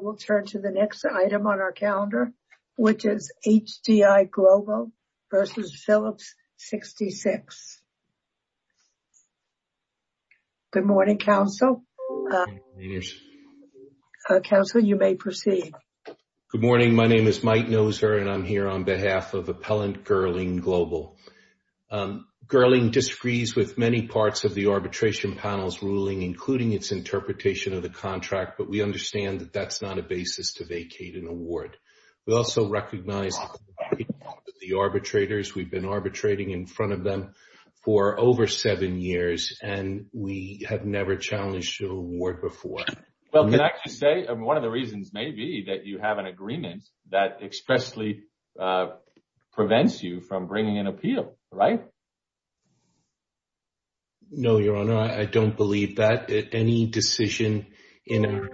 We'll turn to the next item on our calendar, which is HDI Global v. Phillips 66. Good morning, counsel. Counsel, you may proceed. Good morning. My name is Mike Noser, and I'm here on behalf of Appellant Gerling Global. Gerling disagrees with many parts of the arbitration panel's ruling, including its interpretation of the contract. But we understand that that's not a basis to vacate an award. We also recognize the arbitrators. We've been arbitrating in front of them for over seven years, and we have never challenged an award before. Well, can I just say, one of the reasons may be that you have an agreement that expressly prevents you from bringing an appeal, right? No, Your Honor, I don't believe that. Any decision in our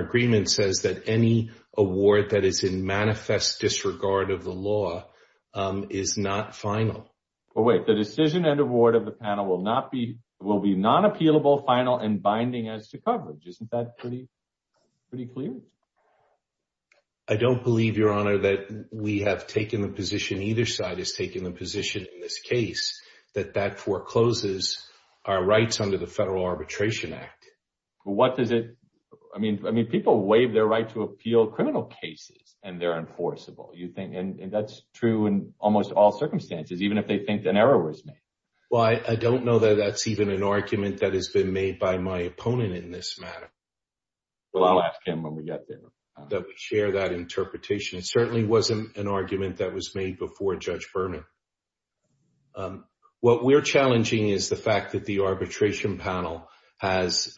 agreement says that any award that is in manifest disregard of the law is not final. Well, wait. The decision and award of the panel will be non-appealable, final, and binding as to coverage. Isn't that pretty clear? I don't believe, Your Honor, that we have taken the position either side has taken the position in this case that that forecloses our rights under the Federal Arbitration Act. What does it? I mean, I mean, people waive their right to appeal criminal cases and they're enforceable, you think? And that's true in almost all circumstances, even if they think an error was made. Well, I don't know that that's even an argument that has been made by my opponent in this matter. Well, I'll ask him when we get there. That we share that interpretation. It certainly wasn't an argument that was made before Judge Berman. Your Honor, what we're challenging is the fact that the arbitration panel has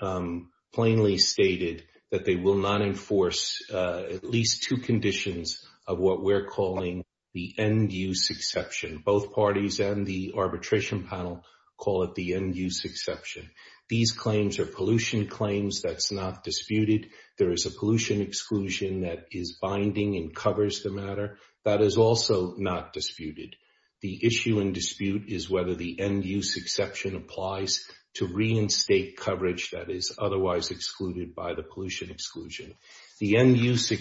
plainly stated that they will not enforce at least two conditions of what we're calling the end-use exception. Both parties and the arbitration panel call it the end-use exception. These claims are pollution claims. That's not disputed. There is a pollution exclusion that is binding and covers the matter. That is also not disputed. The issue in dispute is whether the end-use exception applies to reinstate coverage that is otherwise excluded by the pollution exclusion. The end-use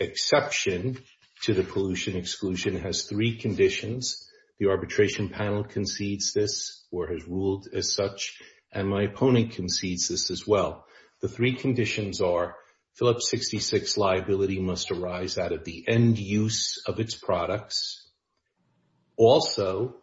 exception to the pollution exclusion has three conditions. The arbitration panel concedes this or has ruled as such, and my opponent concedes this as well. The three conditions are Phillips 66 liability must arise out of the end-use of its products. Also,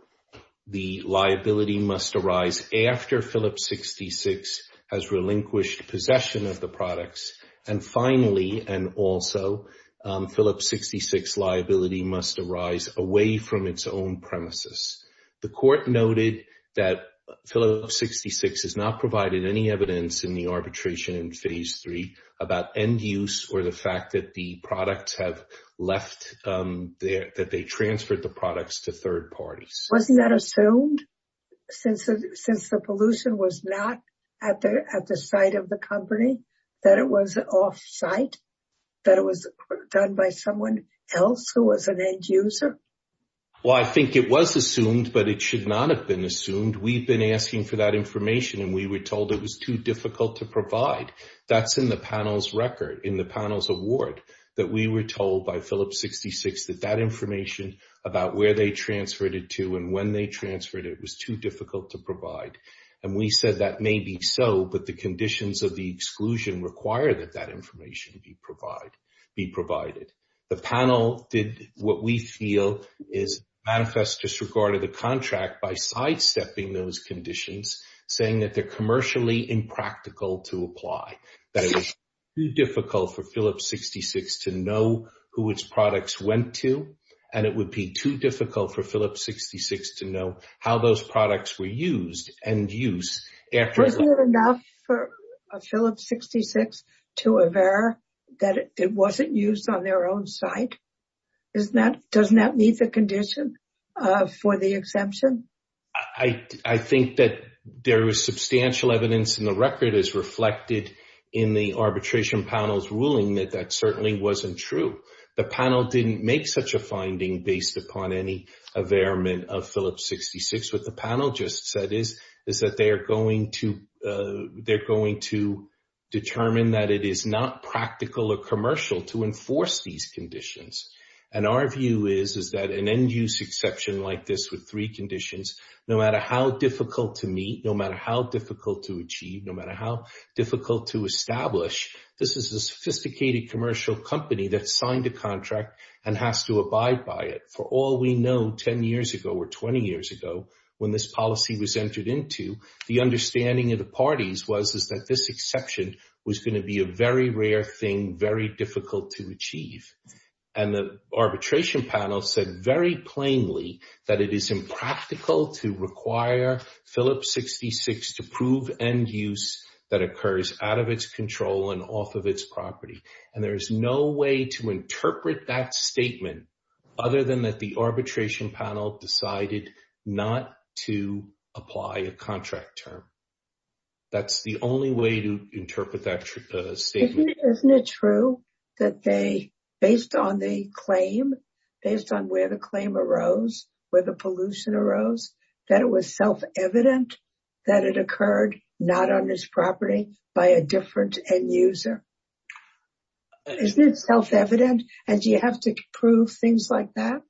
the liability must arise after Phillips 66 has relinquished possession of the products. And finally, and also, Phillips 66 liability must arise away from its own premises. The court noted that Phillips 66 has not provided any evidence in the arbitration in Phase 3 about end-use or the fact that the products have left, that they transferred the products to third parties. Wasn't that assumed since the pollution was not at the site of the company, that it was off-site, that it was done by someone else who was an end-user? Well, I think it was assumed, but it should not have been assumed. We've been asking for that information, and we were told it was too difficult to provide. That's in the panel's record, in the panel's award, that we were told by Phillips 66 that that information about where they transferred it to and when they transferred it was too difficult to provide. And we said that may be so, but the conditions of the exclusion require that that information be provided. The panel did what we feel is manifest disregard of the contract by sidestepping those conditions, saying that they're commercially impractical to apply, that it was too difficult for Phillips 66 to know who its products went to, and it would be too difficult for Phillips 66 to know how those products were used, end-use, after the— that it wasn't used on their own site. Isn't that—doesn't that meet the condition for the exemption? I think that there was substantial evidence in the record, as reflected in the arbitration panel's ruling, that that certainly wasn't true. The panel didn't make such a finding based upon any avairement of Phillips 66. What the panel just said is, is that they are going to—they're going to determine that it is not practical or commercial to enforce these conditions. And our view is, is that an end-use exception like this with three conditions, no matter how difficult to meet, no matter how difficult to achieve, no matter how difficult to establish, this is a sophisticated commercial company that signed a contract and has to abide by it. For all we know, 10 years ago or 20 years ago, when this policy was entered into, the understanding of the parties was that this exception was going to be a very rare thing, very difficult to achieve. And the arbitration panel said very plainly that it is impractical to require Phillips 66 to prove end-use that occurs out of its control and off of its property. And there is no way to interpret that statement other than that the arbitration panel decided not to apply a contract term. That's the only way to interpret that statement. Isn't it true that they, based on the claim, based on where the claim arose, where the pollution arose, that it was self-evident that it occurred not on this property by a different end-user? Isn't it self-evident? And do you have to prove things like that?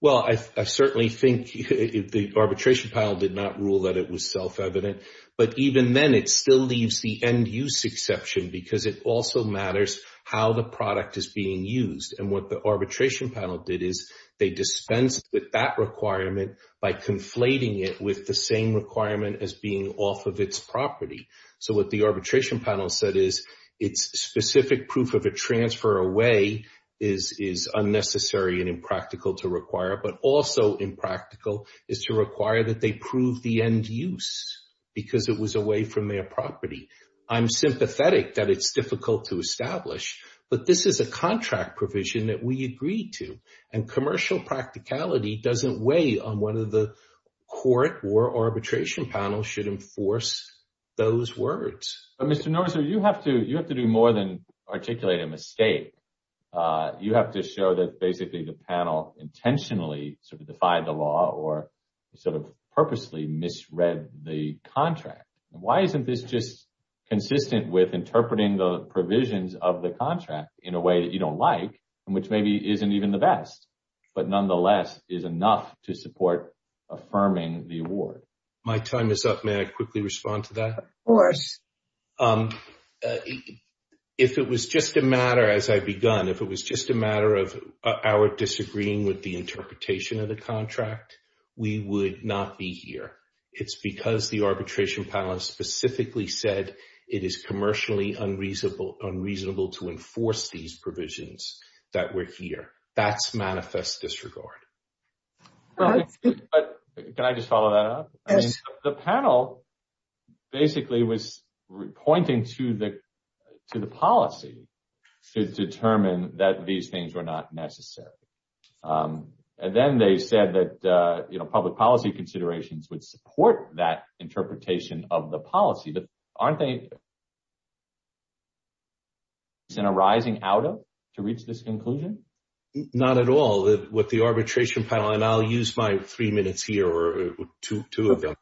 Well, I certainly think the arbitration panel did not rule that it was self-evident. But even then, it still leaves the end-use exception because it also matters how the product is being used. And what the arbitration panel did is they dispensed with that requirement by conflating it with the same requirement as being off of its property. So what the arbitration panel said is its specific proof of a transfer away is unnecessary and impractical to require, but also impractical is to require that they prove the end-use because it was away from their property. I'm sympathetic that it's difficult to establish, but this is a contract provision that we agreed to. And commercial practicality doesn't weigh on whether the court or arbitration panel should enforce those words. Mr. Norris, you have to do more than articulate a mistake. You have to show that basically the panel intentionally sort of defied the law or sort of purposely misread the contract. Why isn't this just consistent with interpreting the provisions of the contract in a way that you don't like and which maybe isn't even the best, but nonetheless is enough to support affirming the award? My time is up. May I quickly respond to that? Of course. If it was just a matter, as I've begun, if it was just a matter of our disagreeing with the interpretation of the contract, we would not be here. It's because the arbitration panel specifically said it is commercially unreasonable to enforce these provisions that we're here. That's manifest disregard. But can I just follow that up? The panel basically was pointing to the to the policy to determine that these things were not necessary. And then they said that public policy considerations would support that interpretation of the policy. But aren't they arising out of to reach this conclusion? Not at all. With the arbitration panel, and I'll use my three minutes here or two of them,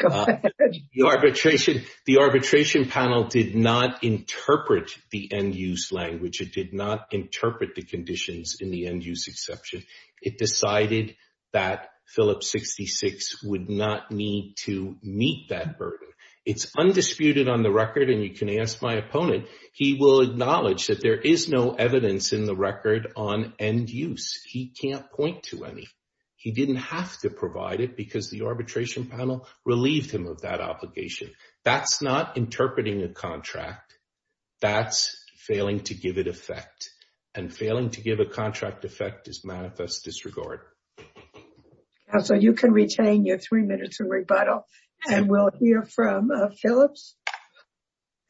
the arbitration, the arbitration panel did not interpret the end use language. It did not interpret the conditions in the end use exception. It decided that Phillips 66 would not need to meet that burden. It's undisputed on the record. And you can ask my opponent. He will acknowledge that there is no evidence in the record on end use. He can't point to any. He didn't have to provide it because the arbitration panel relieved him of that obligation. That's not interpreting a contract. That's failing to give it effect and failing to give a contract effect is manifest disregard. So you can retain your three minutes of rebuttal and we'll hear from Phillips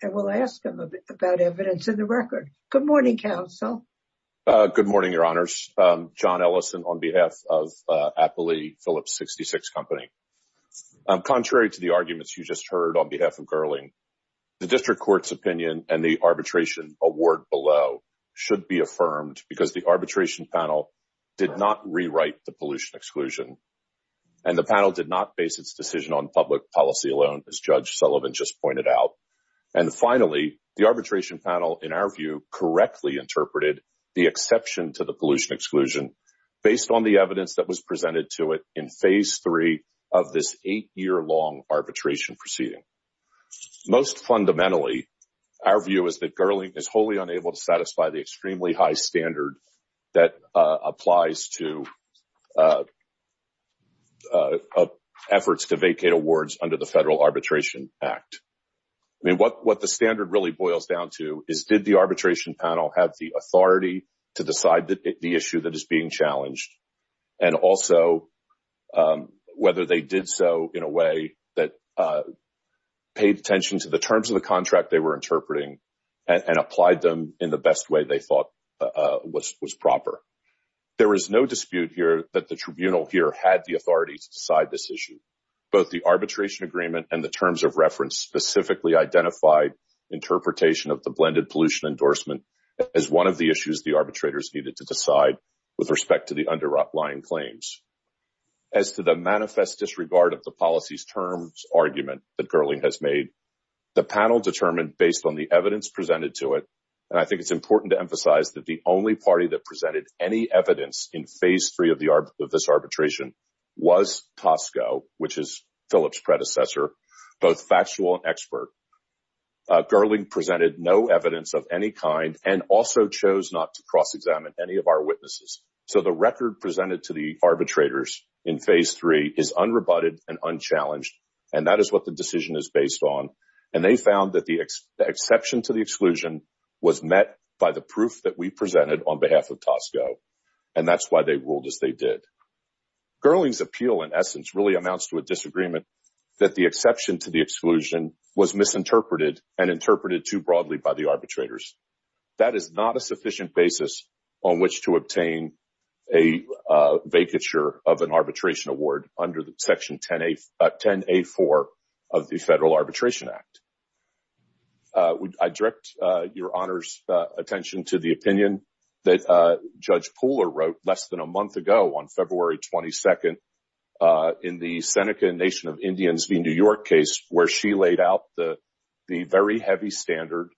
and we'll ask him about evidence in the record. Good morning, counsel. Good morning, Your Honors. John Ellison on behalf of Appley Phillips 66 company. Contrary to the arguments you just heard on behalf of curling, the district court's opinion and the arbitration award below should be affirmed because the arbitration panel did not rewrite the pollution exclusion. And the panel did not base its decision on public policy alone, as Judge Sullivan just pointed out. And finally, the arbitration panel, in our view, correctly interpreted the exception to the pollution exclusion based on the evidence that was presented to it in phase three of this eight year long arbitration proceeding. Most fundamentally, our view is that Gurley is wholly unable to satisfy the extremely high standard that applies to. Efforts to vacate awards under the federal arbitration act. I mean, what what the standard really boils down to is, did the arbitration panel have the authority to decide that the issue that is being challenged and also whether they did so in a way that paid attention to the terms of the contract they were interpreting and applied them in the best way they thought was was proper. There is no dispute here that the tribunal here had the authority to decide this issue. Both the arbitration agreement and the terms of reference specifically identified interpretation of the blended pollution endorsement as one of the issues the arbitrators needed to decide with respect to the underlying claims. As to the manifest disregard of the policy's terms argument that Gurley has made, the panel determined based on the evidence presented to it, and I think it's important to emphasize that the only party that presented any evidence in phase three of the of this arbitration was Tosco, which is Phillips predecessor, both factual and expert. Gurley presented no evidence of any kind and also chose not to cross-examine any of our witnesses, so the record presented to the arbitrators in phase three is unrebutted and unchallenged, and that is what the decision is based on, and they found that the exception to the exclusion was met by the proof that we presented on behalf of Tosco, and that's why they ruled as they did. Gurley's appeal, in essence, really amounts to a disagreement that the exception to the exclusion was misinterpreted and interpreted too broadly by the arbitrators. That is not a sufficient basis on which to obtain a vacature of an arbitration award under the section 10A4 of the Federal Arbitration Act. I direct your Honor's attention to the opinion that Judge Pooler wrote less than a month ago on February 22nd in the Seneca and Nation of Indians v. New York case, where she laid out the very heavy standard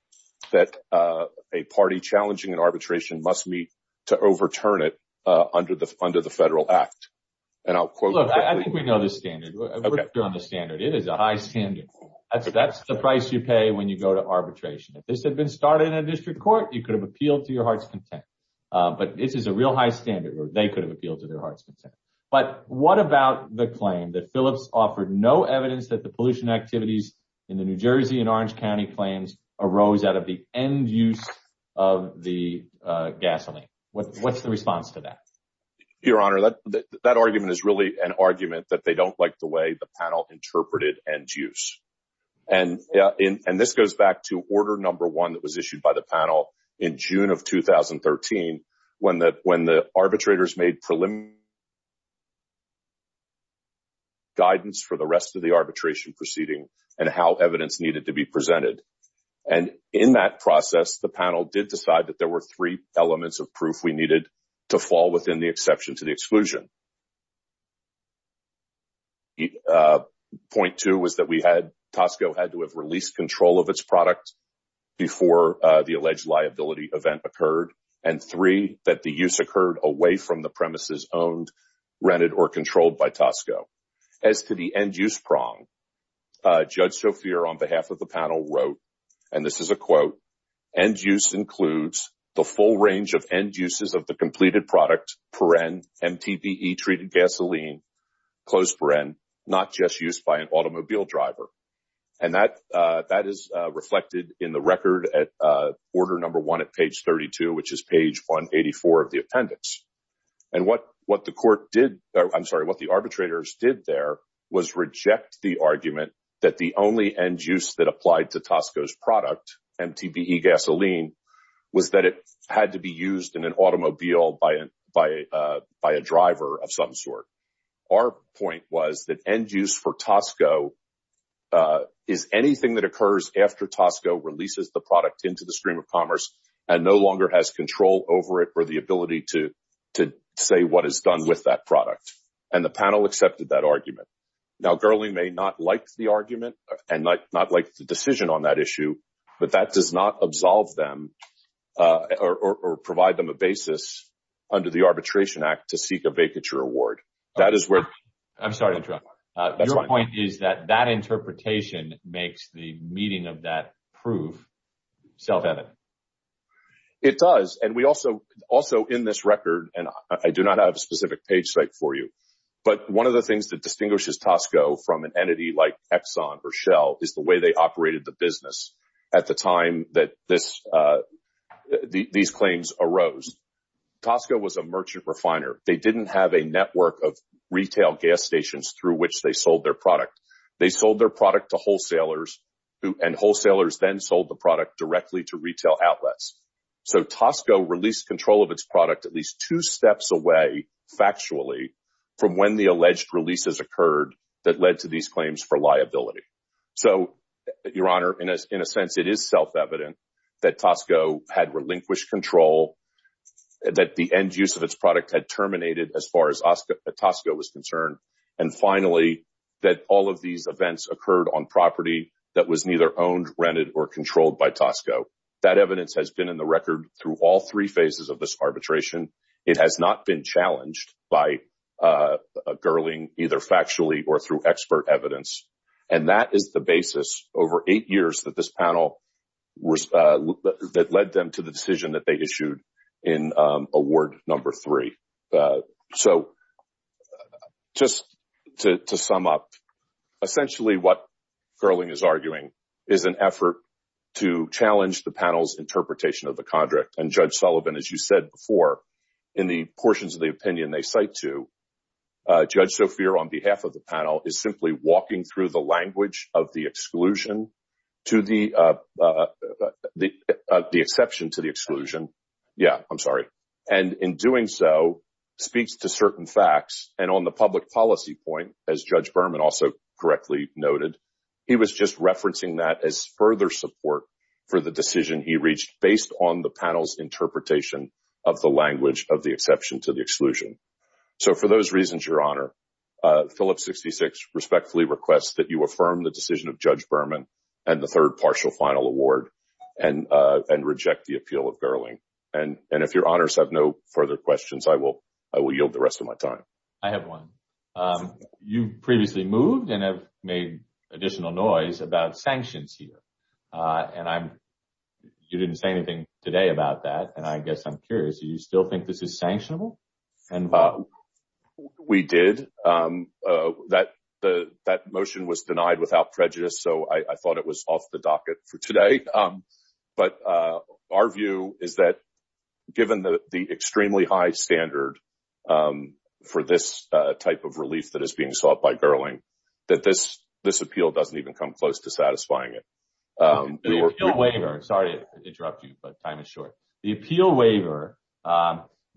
that a party challenging an arbitration must meet to overturn it under the Federal Act, and I'll quote. Look, I think we know the standard. We're clear on the standard. It is a high standard. That's the price you pay when you go to arbitration. If this had been started in a district court, you could have appealed to your heart's content, but this is a real high standard where they could have appealed to their heart's content. But what about the claim that Phillips offered no evidence that the pollution activities in the New Jersey and Orange County claims arose out of the end use of the gasoline? What's the response to that? Your Honor, that argument is really an argument that they don't like the way the panel interpreted end use. And this goes back to order number one that was issued by the panel in June of 2013, when the arbitrators made preliminary guidance for the rest of the arbitration proceeding and how evidence needed to be presented. And in that process, the panel did decide that there were three elements of proof we needed to fall within the exception to the exclusion. Point two was that we had—Tosco had to have released control of its product before the alleged liability event occurred, and three, that the use occurred away from the premises owned, rented, or controlled by Tosco. As to the end use prong, Judge Sophia, on behalf of the panel, wrote, and this is a quote, end use includes the full range of end uses of the completed product per n MTPE-treated gasoline, close per n, not just used by an automobile driver. And that is reflected in the record at order number one at page 32, which is page 184 of the appendix. And what the court did—I'm sorry, what the arbitrators did there was reject the argument that the only end use that applied to Tosco's product, MTPE gasoline, was that it had to be used in an automobile by a driver of some sort. Our point was that end use for Tosco is anything that occurs after Tosco releases the product into the stream of commerce and no longer has control over it or the ability to say what is done with that product. And the panel accepted that argument. Now, Gurley may not like the argument and not like the decision on that issue, but that does not absolve them or provide them a basis under the Arbitration Act to seek a vacature award. That is where— I'm sorry to interrupt. That's fine. Your point is that that interpretation makes the meeting of that proof self-evident. It does. And we also—also in this record, and I do not have a specific page site for you, but one of the things that distinguishes Tosco from an entity like Exxon or Shell is the way they operated the business at the time that these claims arose. Tosco was a merchant refiner. They didn't have a network of retail gas stations through which they sold their product. They sold their product to wholesalers, and wholesalers then sold the product directly to retail outlets. So Tosco released control of its product at least two steps away, factually, from when the alleged releases occurred that led to these claims for liability. So, Your Honor, in a sense, it is self-evident that Tosco had relinquished control, that the end use of its product had terminated as far as Tosco was concerned, and finally, that all of these events occurred on property that was neither owned, rented, or controlled by Tosco. That evidence has been in the record through all three phases of this arbitration. It has not been challenged by Gerling either factually or through expert evidence, and that is the basis over eight years that this panel, that led them to the decision that they issued in Award No. 3. So just to sum up, essentially what Gerling is arguing is an effort to challenge the panel's interpretation of the contract. And Judge Sullivan, as you said before, in the portions of the opinion they cite to, Judge Sophia, on behalf of the panel, is simply walking through the language of the exclusion, the exception to the exclusion, yeah, I'm sorry, and in doing so speaks to certain facts. And on the public policy point, as Judge Berman also correctly noted, he was just referencing that as further support for the decision he reached based on the panel's interpretation of the language of the exception to the exclusion. So for those reasons, Your Honor, Phillips 66 respectfully requests that you affirm the decision of Judge Berman and the third partial final award and reject the appeal of Gerling. And if Your Honors have no further questions, I will yield the rest of my time. I have one. You previously moved and have made additional noise about sanctions here. And you didn't say anything today about that, and I guess I'm curious, do you still think this is sanctionable? We did. That motion was denied without prejudice, so I thought it was off the docket for today. But our view is that given the extremely high standard for this type of relief that is being sought by Gerling, that this appeal doesn't even come close to satisfying it. The appeal waiver, sorry to interrupt you, but time is short. The appeal waiver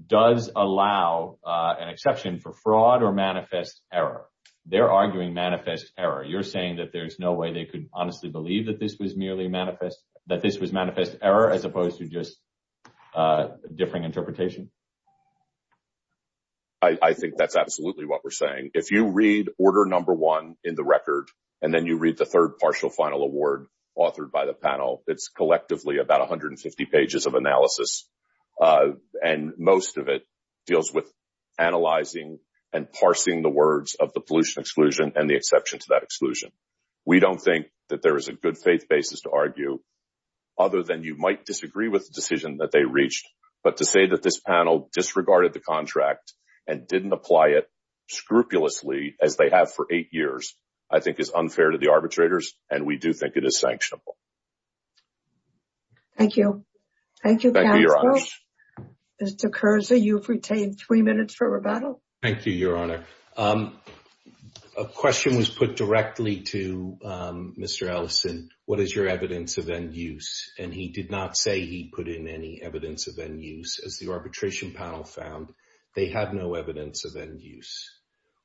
does allow an exception for fraud or manifest error. They're arguing manifest error. You're saying that there's no way they could honestly believe that this was merely manifest, that this was manifest error as opposed to just differing interpretation? I think that's absolutely what we're saying. If you read order number one in the record and then you read the third partial final award authored by the panel, it's collectively about 150 pages of analysis. And most of it deals with analyzing and parsing the words of the pollution exclusion and the exception to that exclusion. We don't think that there is a good faith basis to argue other than you might disagree with the decision that they reached. But to say that this panel disregarded the contract and didn't apply it scrupulously as they have for eight years, I think is unfair to the arbitrators. And we do think it is sanctionable. Thank you. Thank you, counsel. Mr. Kerzer, you've retained three minutes for rebuttal. Thank you, your honor. A question was put directly to Mr. Ellison. What is your evidence of end use? And he did not say he put in any evidence of end use. As the arbitration panel found, they have no evidence of end use.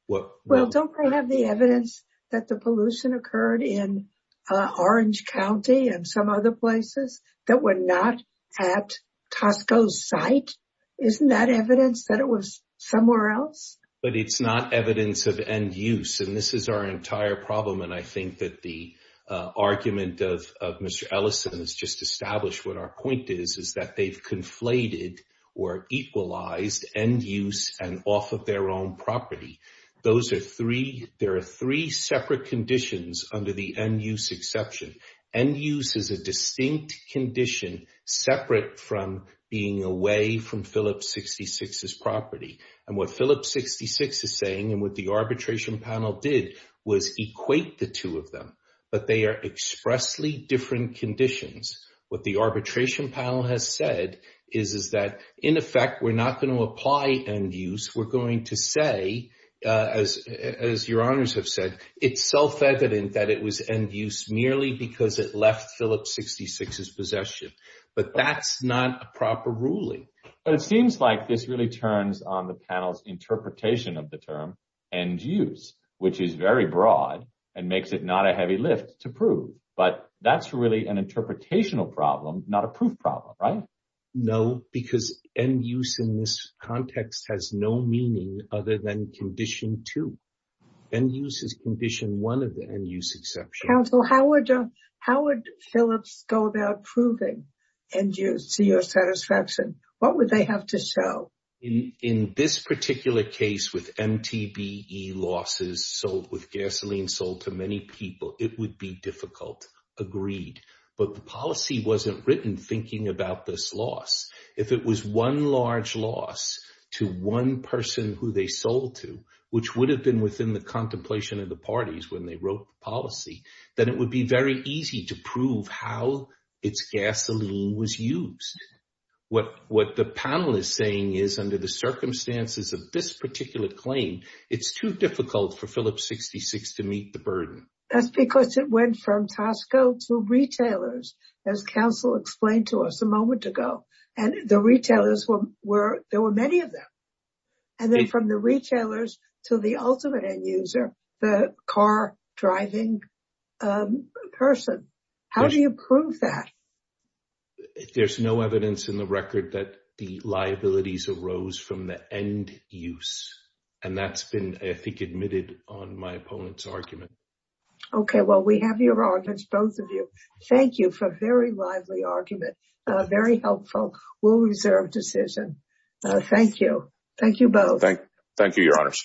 Well, don't we have the evidence that the pollution occurred in Orange County and some other places that were not at Tosco's site? Isn't that evidence that it was somewhere else? But it's not evidence of end use. And this is our entire problem. And I think that the argument of Mr. Ellison has just established what our point is, is that they've conflated or equalized end use and off of their own property. Those are three. There are three separate conditions under the end use exception. End use is a distinct condition separate from being away from Phillips 66's property. And what Phillips 66 is saying and what the arbitration panel did was equate the two of them. But they are expressly different conditions. What the arbitration panel has said is that in effect, we're not going to apply end use. We're going to say, as your honors have said, it's self-evident that it was end use merely because it left Phillips 66's possession. But that's not a proper ruling. But it seems like this really turns on the panel's interpretation of the term end use, which is very broad and makes it not a heavy lift to prove. But that's really an interpretational problem, not a proof problem, right? No, because end use in this context has no meaning other than condition two. End use is condition one of the end use exception. Counsel, how would Phillips go about proving end use to your satisfaction? What would they have to show? In this particular case with MTBE losses sold, with gasoline sold to many people, it would be difficult. Agreed. But the policy wasn't written thinking about this loss. If it was one large loss to one person who they sold to, which would have been within the contemplation of the parties when they wrote the policy, then it would be very easy to prove how its gasoline was used. What the panel is saying is under the circumstances of this particular claim, it's too difficult for Phillips 66 to meet the burden. That's because it went from Tosco to retailers, as counsel explained to us a moment ago. And the retailers were, there were many of them. And then from the retailers to the ultimate end user, the car driving person. How do you prove that? There's no evidence in the record that the liabilities arose from the end use. And that's been, I think, admitted on my opponent's argument. Okay. Well, we have your arguments, both of you. Thank you for a very lively argument. Very helpful. Well-reserved decision. Thank you. Thank you both. Thank you, Your Honors.